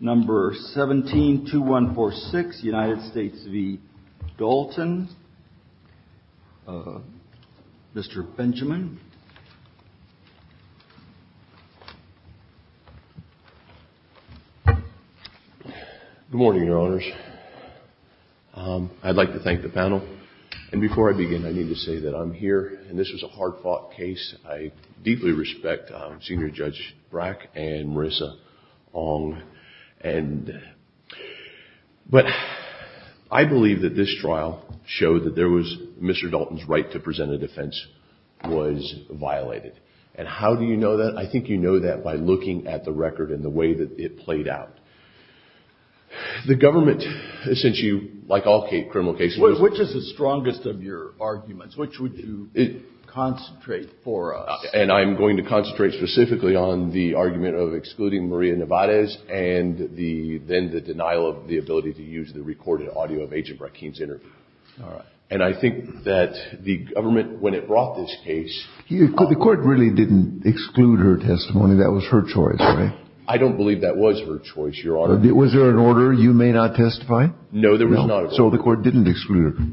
Good morning, Your Honors. I'd like to thank the panel. And before I begin, I need to say that I'm here, and this was a hard-fought case. I deeply respect Senior Judge Brack and Marissa Ong. But I believe that this trial showed that Mr. Dalton's right to present a defense was violated. And how do you know that? I think you know that by looking at the record and the way that it played out. The government, since you, like all criminal cases— Which is the strongest of your arguments? Which would you concentrate for us? And I'm going to concentrate specifically on the argument of excluding Maria Nevarez and then the denial of the ability to use the recorded audio of Agent Brackeen's interview. And I think that the government, when it brought this case— The Court really didn't exclude her testimony. That was her choice, right? I don't believe that was her choice, Your Honor. Was there an order, you may not testify? No, there was not. So the Court didn't exclude her.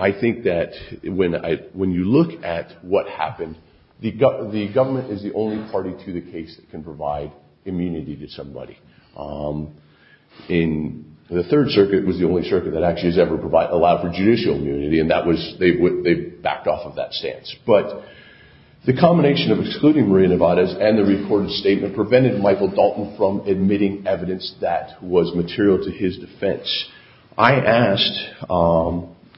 I think that when you look at what happened, the government is the only party to the case that can provide immunity to somebody. The Third Circuit was the only circuit that actually has ever allowed for judicial immunity, and they backed off of that stance. But the combination of excluding Maria Nevarez and the recorded statement prevented Michael Dalton from admitting evidence that was material to his defense. I asked,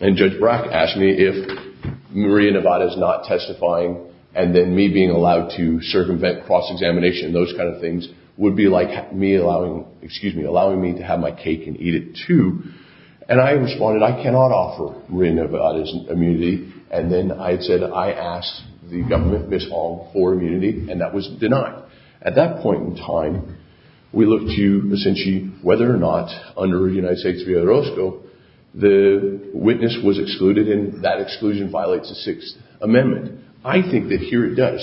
and Judge Brack asked me, if Maria Nevarez not testifying and then me being allowed to circumvent cross-examination and those kind of things would be like me allowing me to have my cake and eat it too. And I responded, I cannot offer Maria Nevarez immunity. And then I said, I asked the government, Ms. Hong, for immunity, and that was denied. At that point in time, we looked to essentially whether or not, under United States v. Orozco, the witness was excluded, and that exclusion violates the Sixth Amendment. I think that here it does.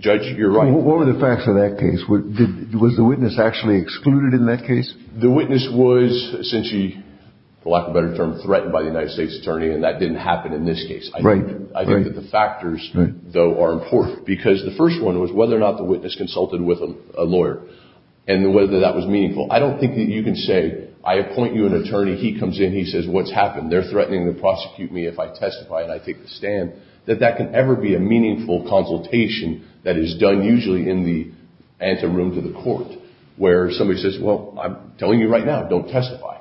Judge, you're right. What were the facts of that case? Was the witness actually excluded in that case? The witness was essentially, for lack of a better term, threatened by the United States Attorney, and that didn't happen in this case. Right. I think that the factors, though, are important, because the first one was whether or not the witness consulted with a lawyer and whether that was meaningful. I don't think that you can say, I appoint you an attorney, he comes in, he says, what's happened? They're threatening to prosecute me if I testify and I take the stand. That that can ever be a meaningful consultation that is done usually in the anteroom to the court, where somebody says, well, I'm telling you right now, don't testify.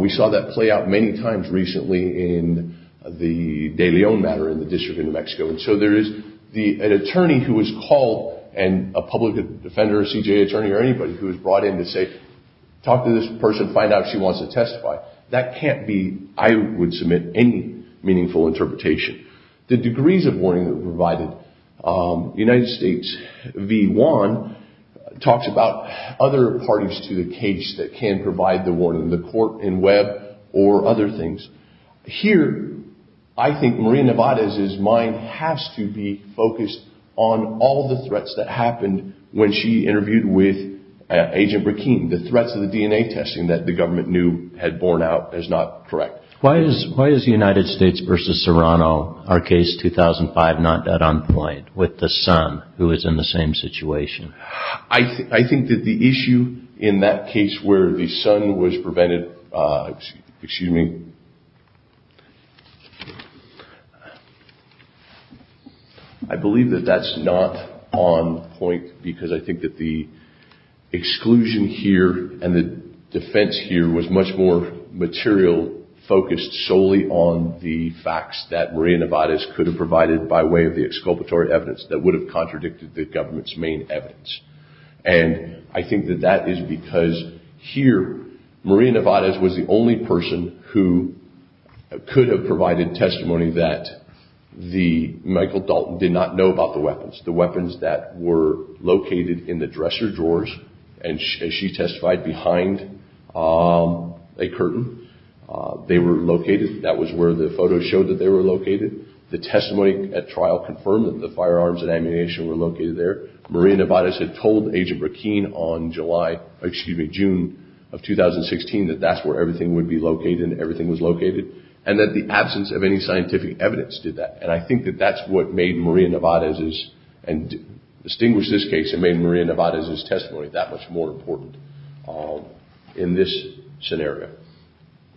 We saw that play out many times recently in the De Leon matter in the District of New Mexico. And so there is an attorney who is called and a public defender, a CJA attorney, or anybody who is brought in to say, talk to this person, find out if she wants to testify. That can't be, I would submit, any meaningful interpretation. The degrees of warning that were provided. United States v. Juan talks about other parties to the case that can provide the warning, the court in Webb or other things. Here, I think Maria Nevarez's mind has to be focused on all the threats that happened when she interviewed with Agent Burkine. The threats of the DNA testing that the government knew had borne out as not correct. Why is the United States v. Serrano, our case 2005, not at on point with the son who is in the same situation? I think that the issue in that case where the son was prevented, excuse me, I believe that that's not on point. Because I think that the exclusion here and the defense here was much more material focused solely on the facts that Maria Nevarez could have provided by way of the exculpatory evidence that would have contradicted the government's main evidence. And I think that that is because here, Maria Nevarez was the only person who could have provided testimony that Michael Dalton did not know about the weapons. The weapons that were located in the dresser drawers, and she testified behind a curtain. They were located, that was where the photos showed that they were located. The testimony at trial confirmed that the firearms and ammunition were located there. Maria Nevarez had told Agent Burkine on July, excuse me, June of 2016 that that's where everything would be located and everything was located. And that the absence of any scientific evidence did that. And I think that that's what made Maria Nevarez's, and distinguished this case, and made Maria Nevarez's testimony that much more important in this scenario.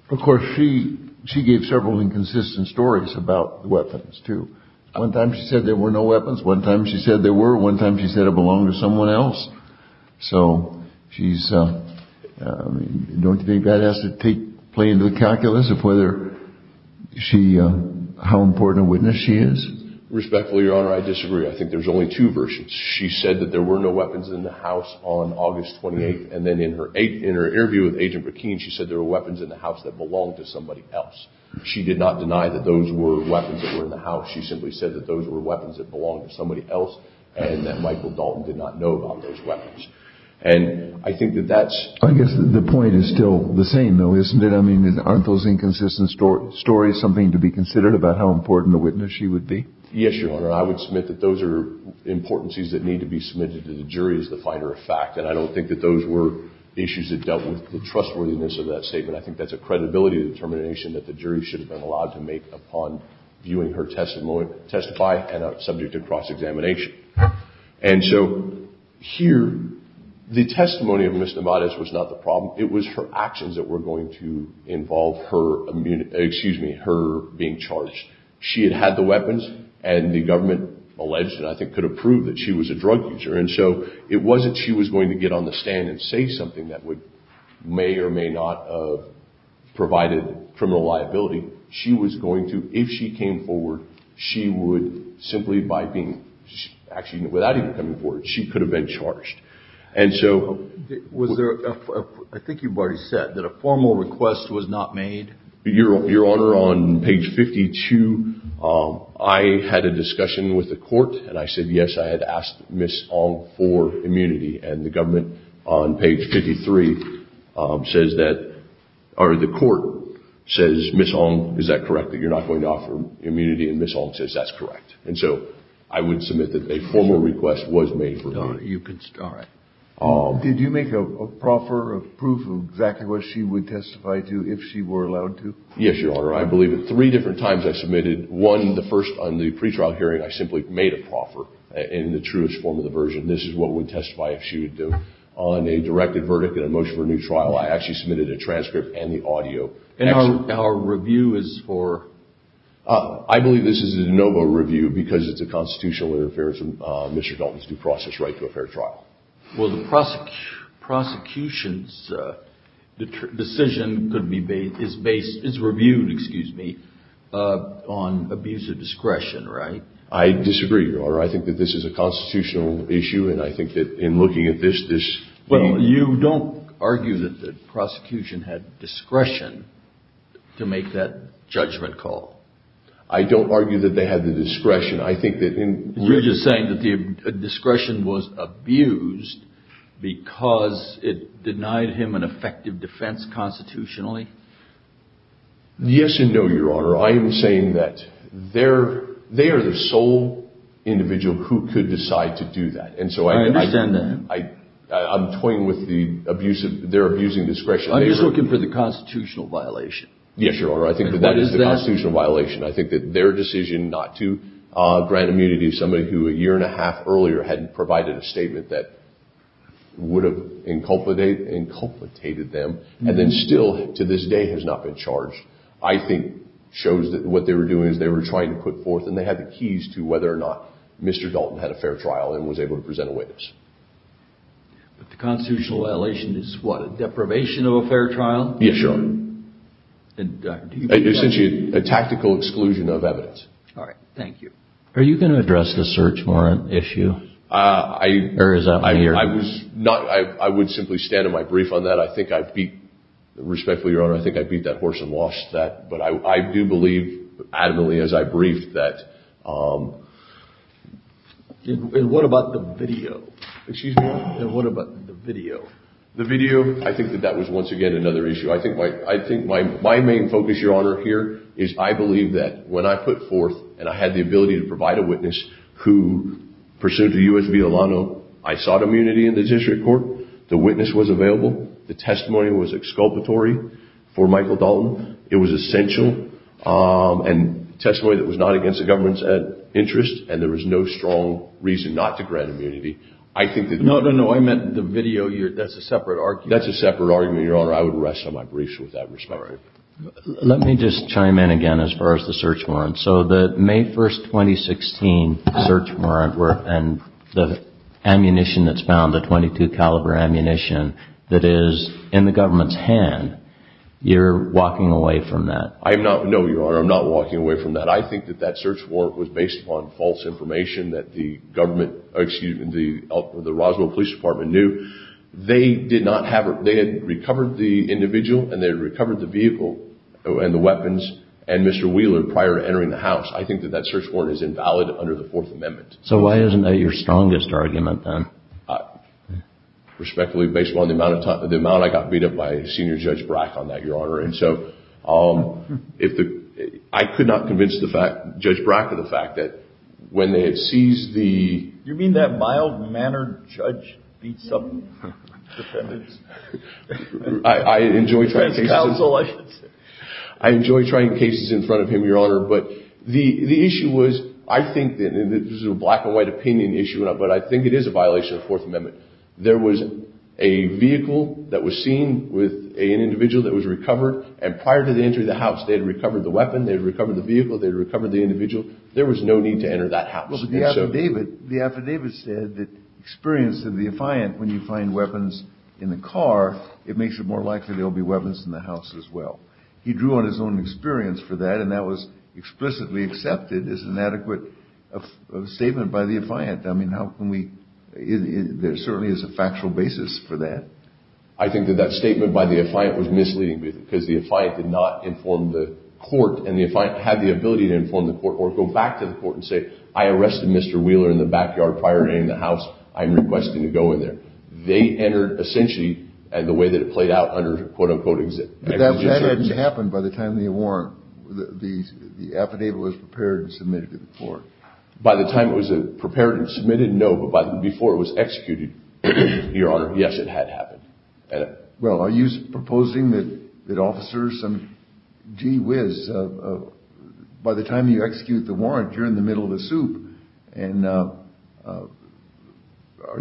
Of course, she gave several inconsistent stories about the weapons too. One time she said there were no weapons. One time she said there were. One time she said it belonged to someone else. So she's, I mean, don't you think that has to play into the calculus of whether she, how important a witness she is? Respectfully, Your Honor, I disagree. I think there's only two versions. She said that there were no weapons in the house on August 28th. And then in her interview with Agent Burkine, she said there were weapons in the house that belonged to somebody else. She did not deny that those were weapons that were in the house. She simply said that those were weapons that belonged to somebody else and that Michael Dalton did not know about those weapons. And I think that that's. I guess the point is still the same, though, isn't it? I mean, aren't those inconsistent stories something to be considered about how important a witness she would be? Yes, Your Honor. I would submit that those are importancies that need to be submitted to the jury as the finer of fact. And I don't think that those were issues that dealt with the trustworthiness of that statement. I think that's a credibility determination that the jury should have been allowed to make upon viewing her testimony, testify, and subject to cross-examination. And so here, the testimony of Ms. Nevarez was not the problem. It was her actions that were going to involve her being charged. She had had the weapons, and the government alleged and I think could have proved that she was a drug user. And so it wasn't she was going to get on the stand and say something that may or may not have provided criminal liability. She was going to, if she came forward, she would simply by being, actually without even coming forward, she could have been charged. And so. Was there, I think you've already said, that a formal request was not made? Your Honor, on page 52, I had a discussion with the court. And I said, yes, I had asked Ms. Ong for immunity. And the government on page 53 says that, or the court says, Ms. Ong, is that correct, that you're not going to offer immunity? And Ms. Ong says that's correct. And so I would submit that a formal request was made for me. Your Honor, you could start. Did you make a proffer of proof of exactly what she would testify to if she were allowed to? Yes, Your Honor. I believe at three different times I submitted. One, the first on the pretrial hearing, I simply made a proffer in the truest form of the version. This is what we'd testify if she would do. On a directed verdict and a motion for a new trial, I actually submitted a transcript and the audio. And our review is for? I believe this is a de novo review because it's a constitutional interference in Mr. Dalton's due process right to a fair trial. Well, the prosecution's decision could be based, is based, is reviewed, excuse me, on abuse of discretion, right? I disagree, Your Honor. I think that this is a constitutional issue, and I think that in looking at this, this. Well, you don't argue that the prosecution had discretion to make that judgment call. I don't argue that they had the discretion. You're just saying that the discretion was abused because it denied him an effective defense constitutionally? Yes and no, Your Honor. I am saying that they are the sole individual who could decide to do that. I understand that. I'm toying with their abusing discretion. I'm just looking for the constitutional violation. Yes, Your Honor. I think that that is the constitutional violation. I think that their decision not to grant immunity to somebody who, a year and a half earlier, hadn't provided a statement that would have inculcated them and then still, to this day, has not been charged, I think shows that what they were doing is they were trying to put forth, and they had the keys to whether or not Mr. Dalton had a fair trial and was able to present a witness. But the constitutional violation is what, a deprivation of a fair trial? Yes, Your Honor. Essentially, a tactical exclusion of evidence. All right. Thank you. Are you going to address the search warrant issue? I was not. I would simply stand in my brief on that. I think I beat, respectfully, Your Honor, I think I beat that horse and lost that. But I do believe, adamantly, as I briefed that. And what about the video? Excuse me? And what about the video? The video? I think that that was, once again, another issue. I think my main focus, Your Honor, here is I believe that when I put forth and I had the ability to provide a witness who pursued the U.S. v. Alano, I sought immunity in the district court. The witness was available. The testimony was exculpatory for Michael Dalton. It was essential and testimony that was not against the government's interest, and there was no strong reason not to grant immunity. No, no, no. I meant the video. That's a separate argument. That's a separate argument, Your Honor. I would rest on my briefs with that respect. All right. Let me just chime in again as far as the search warrant. So the May 1, 2016 search warrant and the ammunition that's found, the .22 caliber ammunition, that is in the government's hand, you're walking away from that? No, Your Honor, I'm not walking away from that. I think that that search warrant was based upon false information that the government, excuse me, the Roswell Police Department knew. They did not have it. They had recovered the individual and they had recovered the vehicle and the weapons and Mr. Wheeler prior to entering the house. I think that that search warrant is invalid under the Fourth Amendment. So why isn't that your strongest argument, then? Respectfully, based on the amount of time, the amount I got beat up by Senior Judge Brack on that, Your Honor. And so I could not convince Judge Brack of the fact that when they had seized the... You mean that mild-mannered judge beats up defendants? I enjoy trying cases... As counsel, I should say. I enjoy trying cases in front of him, Your Honor. But the issue was, I think that, and this is a black and white opinion issue, but I think it is a violation of the Fourth Amendment. There was a vehicle that was seen with an individual that was recovered, and prior to the entry of the house they had recovered the weapon, they had recovered the vehicle, they had recovered the individual. There was no need to enter that house. Well, but the affidavit said that experience of the affiant, when you find weapons in the car, it makes it more likely there will be weapons in the house as well. He drew on his own experience for that, and that was explicitly accepted as an adequate statement by the affiant. I mean, how can we... There certainly is a factual basis for that. I think that that statement by the affiant was misleading, because the affiant did not inform the court, and the affiant had the ability to inform the court, or go back to the court and say, I arrested Mr. Wheeler in the backyard prior to entering the house. I am requesting to go in there. They entered essentially the way that it played out under quote, unquote... But that hadn't happened by the time the warrant, the affidavit was prepared and submitted to the court. By the time it was prepared and submitted, no, but before it was executed, Your Honor, yes, it had happened. Well, are you proposing that officers... Gee whiz. By the time you execute the warrant, you're in the middle of the soup. And are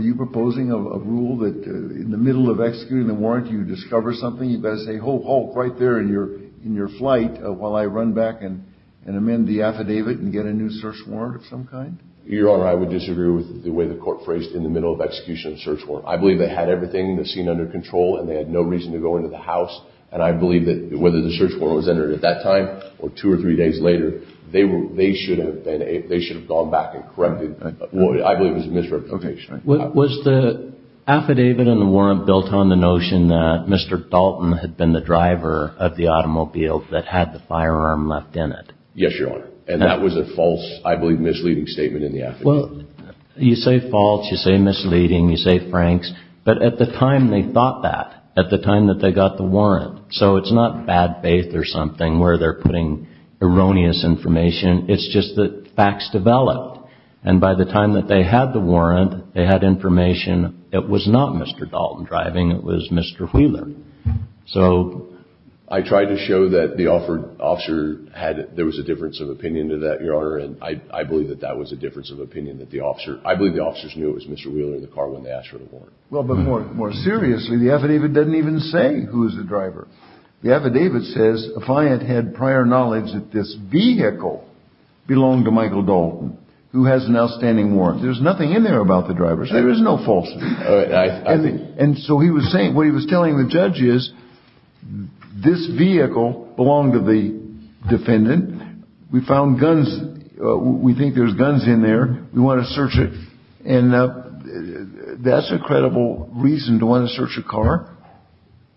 you proposing a rule that in the middle of executing the warrant, you discover something? You've got to say, ho, ho, right there in your flight, while I run back and amend the affidavit and get a new search warrant of some kind? Your Honor, I would disagree with the way the court phrased in the middle of execution of search warrant. I believe they had everything, the scene under control, and they had no reason to go into the house. And I believe that whether the search warrant was entered at that time or two or three days later, they should have gone back and corrected. I believe it was a misrepresentation. Was the affidavit and the warrant built on the notion that Mr. Dalton had been the driver of the automobile that had the firearm left in it? Yes, Your Honor. Well, you say false. You say misleading. You say franks. But at the time they thought that, at the time that they got the warrant, so it's not bad faith or something where they're putting erroneous information. It's just that facts developed. And by the time that they had the warrant, they had information it was not Mr. Dalton driving. It was Mr. Wheeler. So I tried to show that the officer had it. There was a difference of opinion to that, Your Honor. And I believe that that was a difference of opinion. I believe the officers knew it was Mr. Wheeler in the car when they asked for the warrant. Well, but more seriously, the affidavit doesn't even say who is the driver. The affidavit says, if I had had prior knowledge that this vehicle belonged to Michael Dalton, who has an outstanding warrant, there's nothing in there about the driver. So there's no falsehood. And so he was saying, what he was telling the judge is, this vehicle belonged to the defendant. We found guns. We think there's guns in there. We want to search it. And that's a credible reason to want to search a car.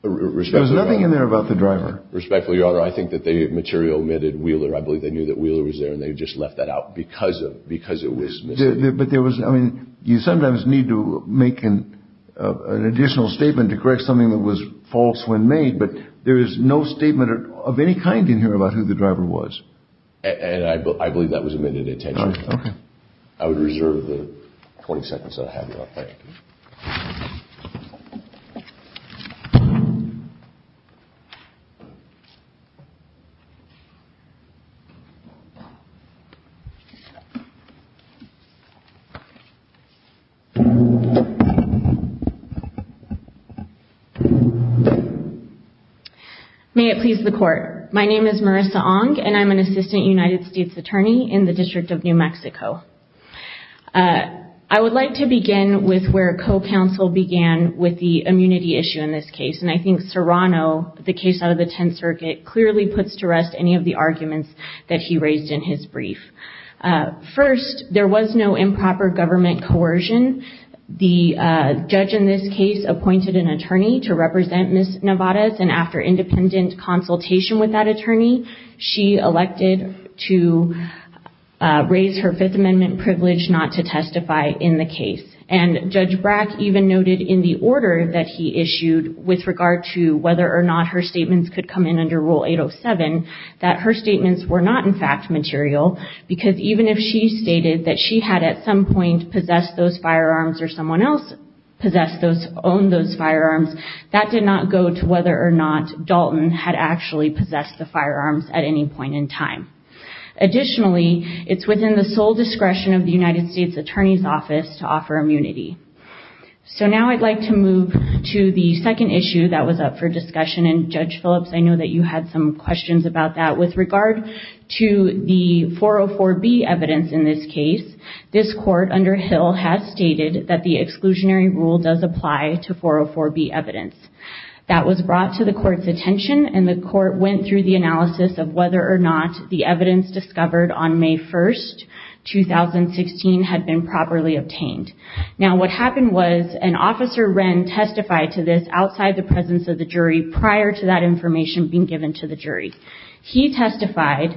There was nothing in there about the driver. Respectfully, Your Honor, I think that they materially omitted Wheeler. I believe they knew that Wheeler was there, and they just left that out because it was Mr. Dalton. But there was, I mean, you sometimes need to make an additional statement to correct something that was false when made, but there is no statement of any kind in here about who the driver was. And I believe that was omitted intentionally. Okay. May it please the Court. My name is Marissa Ong, and I'm an assistant United States attorney in the District of New Mexico. I would like to begin with where co-counsel began with the immunity issue in this case, and I think Serrano, the case out of the Tenth Circuit, clearly puts to rest any of the arguments that he raised in his brief. First, there was no improper government coercion. The judge in this case appointed an attorney to represent Ms. Nevarez, and after independent consultation with that attorney, she elected to raise her Fifth Amendment privilege not to testify in the case. And Judge Brack even noted in the order that he issued with regard to whether or not her statements could come in under Rule 807 because even if she stated that she had at some point possessed those firearms or someone else owned those firearms, that did not go to whether or not Dalton had actually possessed the firearms at any point in time. Additionally, it's within the sole discretion of the United States Attorney's Office to offer immunity. So now I'd like to move to the second issue that was up for discussion, and Judge Phillips, I know that you had some questions about that. With regard to the 404B evidence in this case, this court under Hill has stated that the exclusionary rule does apply to 404B evidence. That was brought to the court's attention, and the court went through the analysis of whether or not the evidence discovered on May 1, 2016, had been properly obtained. Now what happened was an officer, Wren, testified to this outside the presence of the jury prior to that information being given to the jury. He testified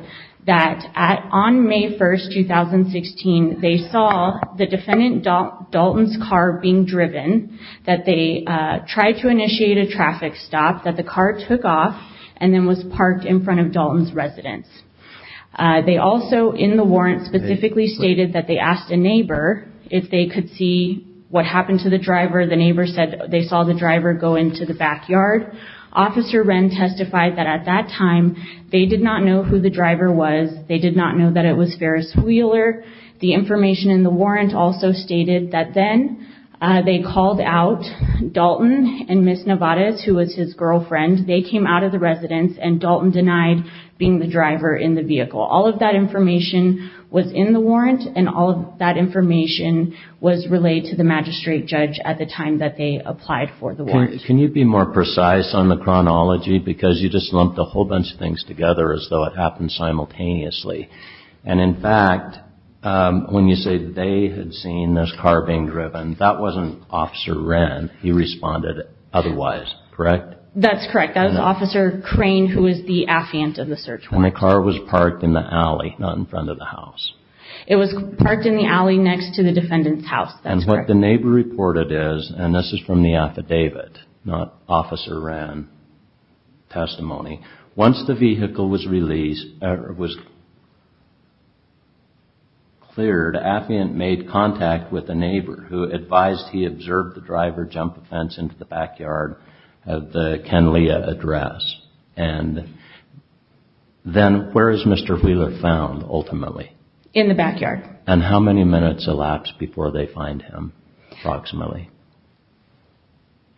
that on May 1, 2016, they saw the defendant Dalton's car being driven, that they tried to initiate a traffic stop, that the car took off and then was parked in front of Dalton's residence. They also, in the warrant, specifically stated that they asked a neighbor if they could see what happened to the driver. The neighbor said they saw the driver go into the backyard. Officer Wren testified that at that time, they did not know who the driver was. They did not know that it was Ferris Wheeler. The information in the warrant also stated that then they called out Dalton and Ms. Nevarez, who was his girlfriend. They came out of the residence, and Dalton denied being the driver in the vehicle. All of that information was in the warrant, and all of that information was relayed to the magistrate judge at the time that they applied for the warrant. Can you be more precise on the chronology? Because you just lumped a whole bunch of things together as though it happened simultaneously. And in fact, when you say they had seen this car being driven, that wasn't Officer Wren. He responded otherwise, correct? That's correct. That was Officer Crane, who was the affiant of the search warrant. And the car was parked in the alley, not in front of the house. It was parked in the alley next to the defendant's house. That's correct. And what the neighbor reported is, and this is from the affidavit, not Officer Wren testimony. Once the vehicle was released, or was cleared, affiant made contact with a neighbor who advised he observed the driver jump a fence into the backyard of the Kenlia address. And then where is Mr. Wheeler found, ultimately? In the backyard. And how many minutes elapsed before they find him, approximately?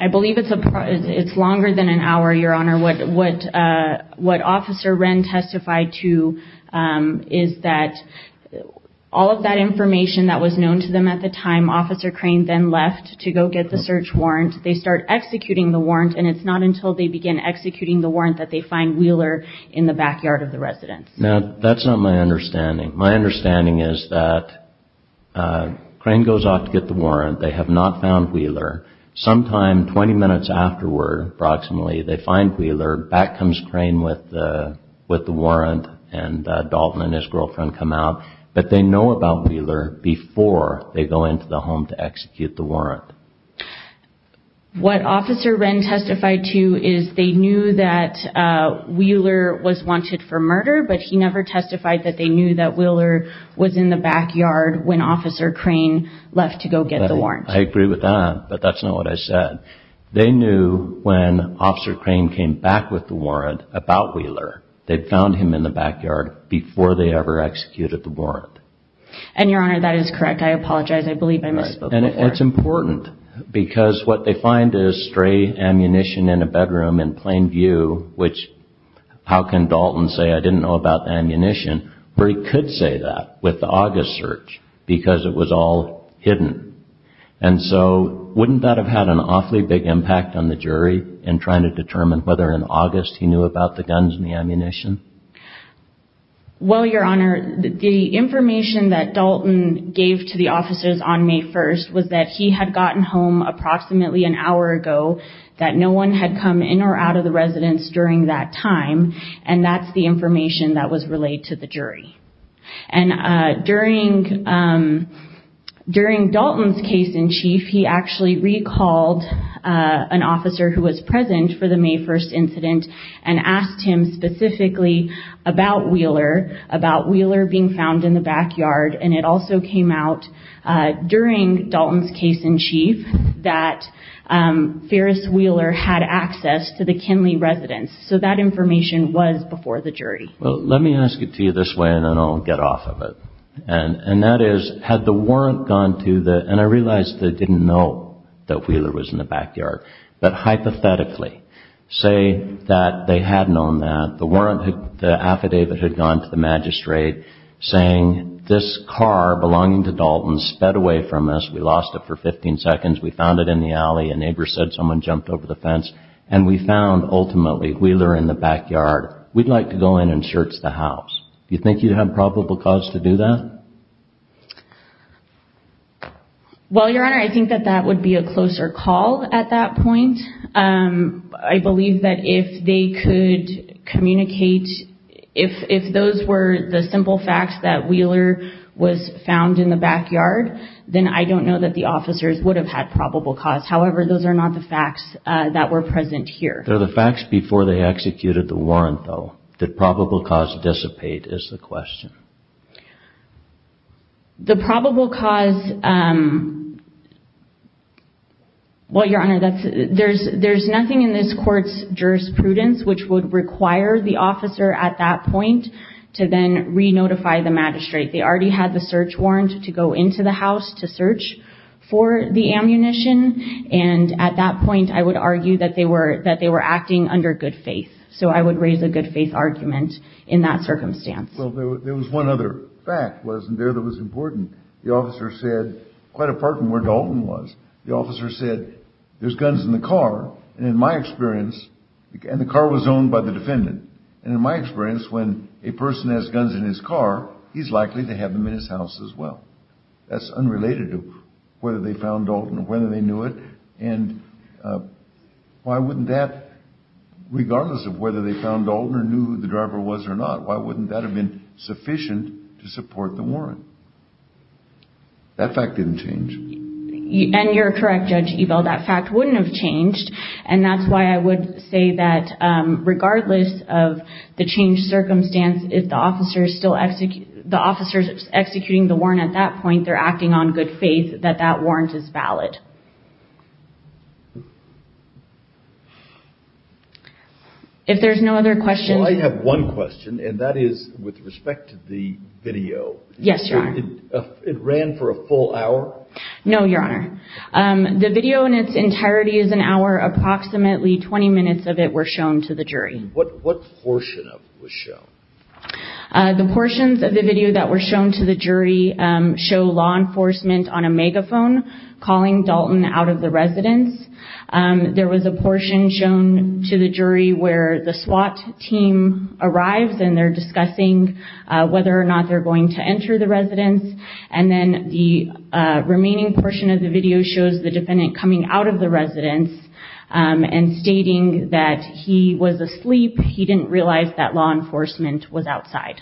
I believe it's longer than an hour, Your Honor. What Officer Wren testified to is that all of that information that was known to them at the time, Officer Crane then left to go get the search warrant. They start executing the warrant, and it's not until they begin executing the warrant that they find Wheeler in the backyard of the residence. Now, that's not my understanding. My understanding is that Crane goes off to get the warrant. They have not found Wheeler. Sometime 20 minutes afterward, approximately, they find Wheeler. Back comes Crane with the warrant, and Dalton and his girlfriend come out. But they know about Wheeler before they go into the home to execute the warrant. What Officer Wren testified to is they knew that Wheeler was wanted for murder, but he never testified that they knew that Wheeler was in the backyard when Officer Crane left to go get the warrant. I agree with that, but that's not what I said. They knew when Officer Crane came back with the warrant about Wheeler. They found him in the backyard before they ever executed the warrant. And, Your Honor, that is correct. I apologize. I believe I misspoke there. And it's important because what they find is stray ammunition in a bedroom in plain view, which how can Dalton say, I didn't know about the ammunition, where he could say that with the August search because it was all hidden. And so wouldn't that have had an awfully big impact on the jury in trying to determine whether in August he knew about the guns and the ammunition? Well, Your Honor, the information that Dalton gave to the officers on May 1st was that he had gotten home approximately an hour ago, that no one had come in or out of the residence during that time, and that's the information that was relayed to the jury. And during Dalton's case in chief, he actually recalled an officer who was present for the May 1st incident and asked him specifically about Wheeler, about Wheeler being found in the backyard, and it also came out during Dalton's case in chief that Ferris Wheeler had access to the Kinley residence. So that information was before the jury. Well, let me ask it to you this way and then I'll get off of it. And that is, had the warrant gone to the, and I realize they didn't know that Wheeler was in the backyard, but hypothetically say that they had known that, the affidavit had gone to the magistrate saying this car belonging to Dalton sped away from us, we lost it for 15 seconds, we found it in the alley, a neighbor said someone jumped over the fence, and we found ultimately Wheeler in the backyard. We'd like to go in and search the house. Do you think you'd have probable cause to do that? Well, Your Honor, I think that that would be a closer call at that point. I believe that if they could communicate, if those were the simple facts that Wheeler was found in the backyard, then I don't know that the officers would have had probable cause. However, those are not the facts that were present here. They're the facts before they executed the warrant, though. Did probable cause dissipate is the question. The probable cause, well, Your Honor, there's nothing in this court's jurisprudence which would require the officer at that point to then re-notify the magistrate. They already had the search warrant to go into the house to search for the ammunition. And at that point, I would argue that they were acting under good faith. So I would raise a good faith argument in that circumstance. Well, there was one other fact, wasn't there, that was important. The officer said, quite apart from where Dalton was, the officer said, there's guns in the car. And in my experience, and the car was owned by the defendant. And in my experience, when a person has guns in his car, he's likely to have them in his house as well. That's unrelated to whether they found Dalton or whether they knew it. And why wouldn't that, regardless of whether they found Dalton or knew who the driver was or not, why wouldn't that have been sufficient to support the warrant? That fact didn't change. And you're correct, Judge Ebel, that fact wouldn't have changed. And that's why I would say that regardless of the changed circumstance, the officers executing the warrant at that point, they're acting on good faith that that warrant is valid. If there's no other questions. Well, I have one question, and that is with respect to the video. Yes, Your Honor. It ran for a full hour? No, Your Honor. The video in its entirety is an hour. Approximately 20 minutes of it were shown to the jury. And what portion of it was shown? The portions of the video that were shown to the jury show law enforcement on a megaphone calling Dalton out of the residence. There was a portion shown to the jury where the SWAT team arrives and they're discussing whether or not they're going to enter the residence. And then the remaining portion of the video shows the defendant coming out of the residence and stating that he was asleep. He didn't realize that law enforcement was outside.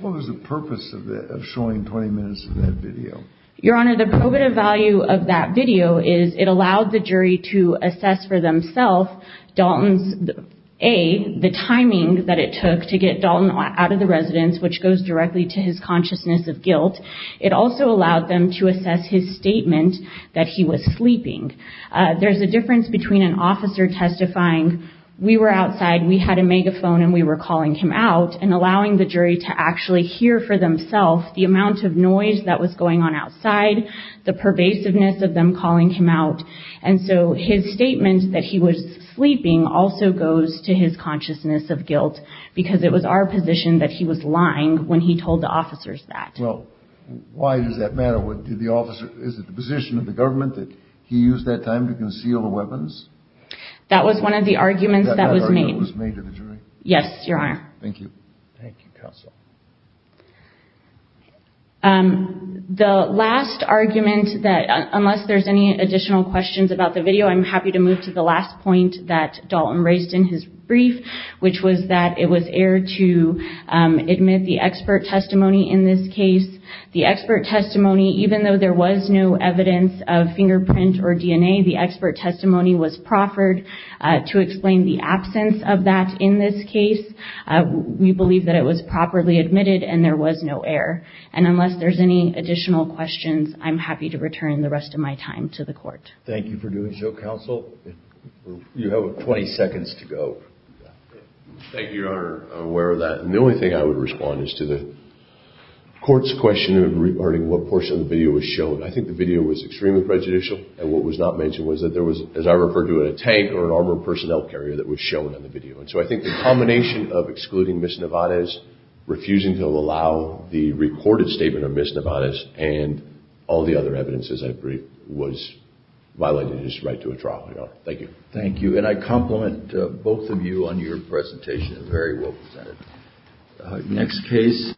What was the purpose of showing 20 minutes of that video? Your Honor, the probative value of that video is it allowed the jury to assess for themselves Dalton's, A, the timing that it took to get Dalton out of the residence, which goes directly to his consciousness of guilt. It also allowed them to assess his statement that he was sleeping. There's a difference between an officer testifying, we were outside, we had a megaphone and we were calling him out, and allowing the jury to actually hear for themselves the amount of noise that was going on outside, the pervasiveness of them calling him out. And so his statement that he was sleeping also goes to his consciousness of guilt because it was our position that he was lying when he told the officers that. Well, why does that matter? Did the officer, is it the position of the government that he used that time to conceal the weapons? That was one of the arguments that was made. That argument was made to the jury? Yes, Your Honor. Thank you. Thank you, Counsel. The last argument that, unless there's any additional questions about the video, I'm happy to move to the last point that Dalton raised in his brief, which was that it was aired to admit the expert testimony in this case. The expert testimony, even though there was no evidence of fingerprint or DNA, the expert testimony was proffered to explain the absence of that in this case. We believe that it was properly admitted and there was no air. And unless there's any additional questions, I'm happy to return the rest of my time to the court. Thank you for doing so, Counsel. You have 20 seconds to go. Thank you, Your Honor. I'm aware of that. And the only thing I would respond is to the court's question regarding what portion of the video was shown. I think the video was extremely prejudicial and what was not mentioned was that there was, as I referred to, a tank or an armored personnel carrier that was shown in the video. And so I think the combination of excluding Ms. Nevarez, refusing to allow the recorded statement of Ms. Nevarez, and all the other evidence, as I briefed, was violating his right to a trial, Your Honor. Thank you. Thank you. And I compliment both of you on your presentation. Very well presented. Next case.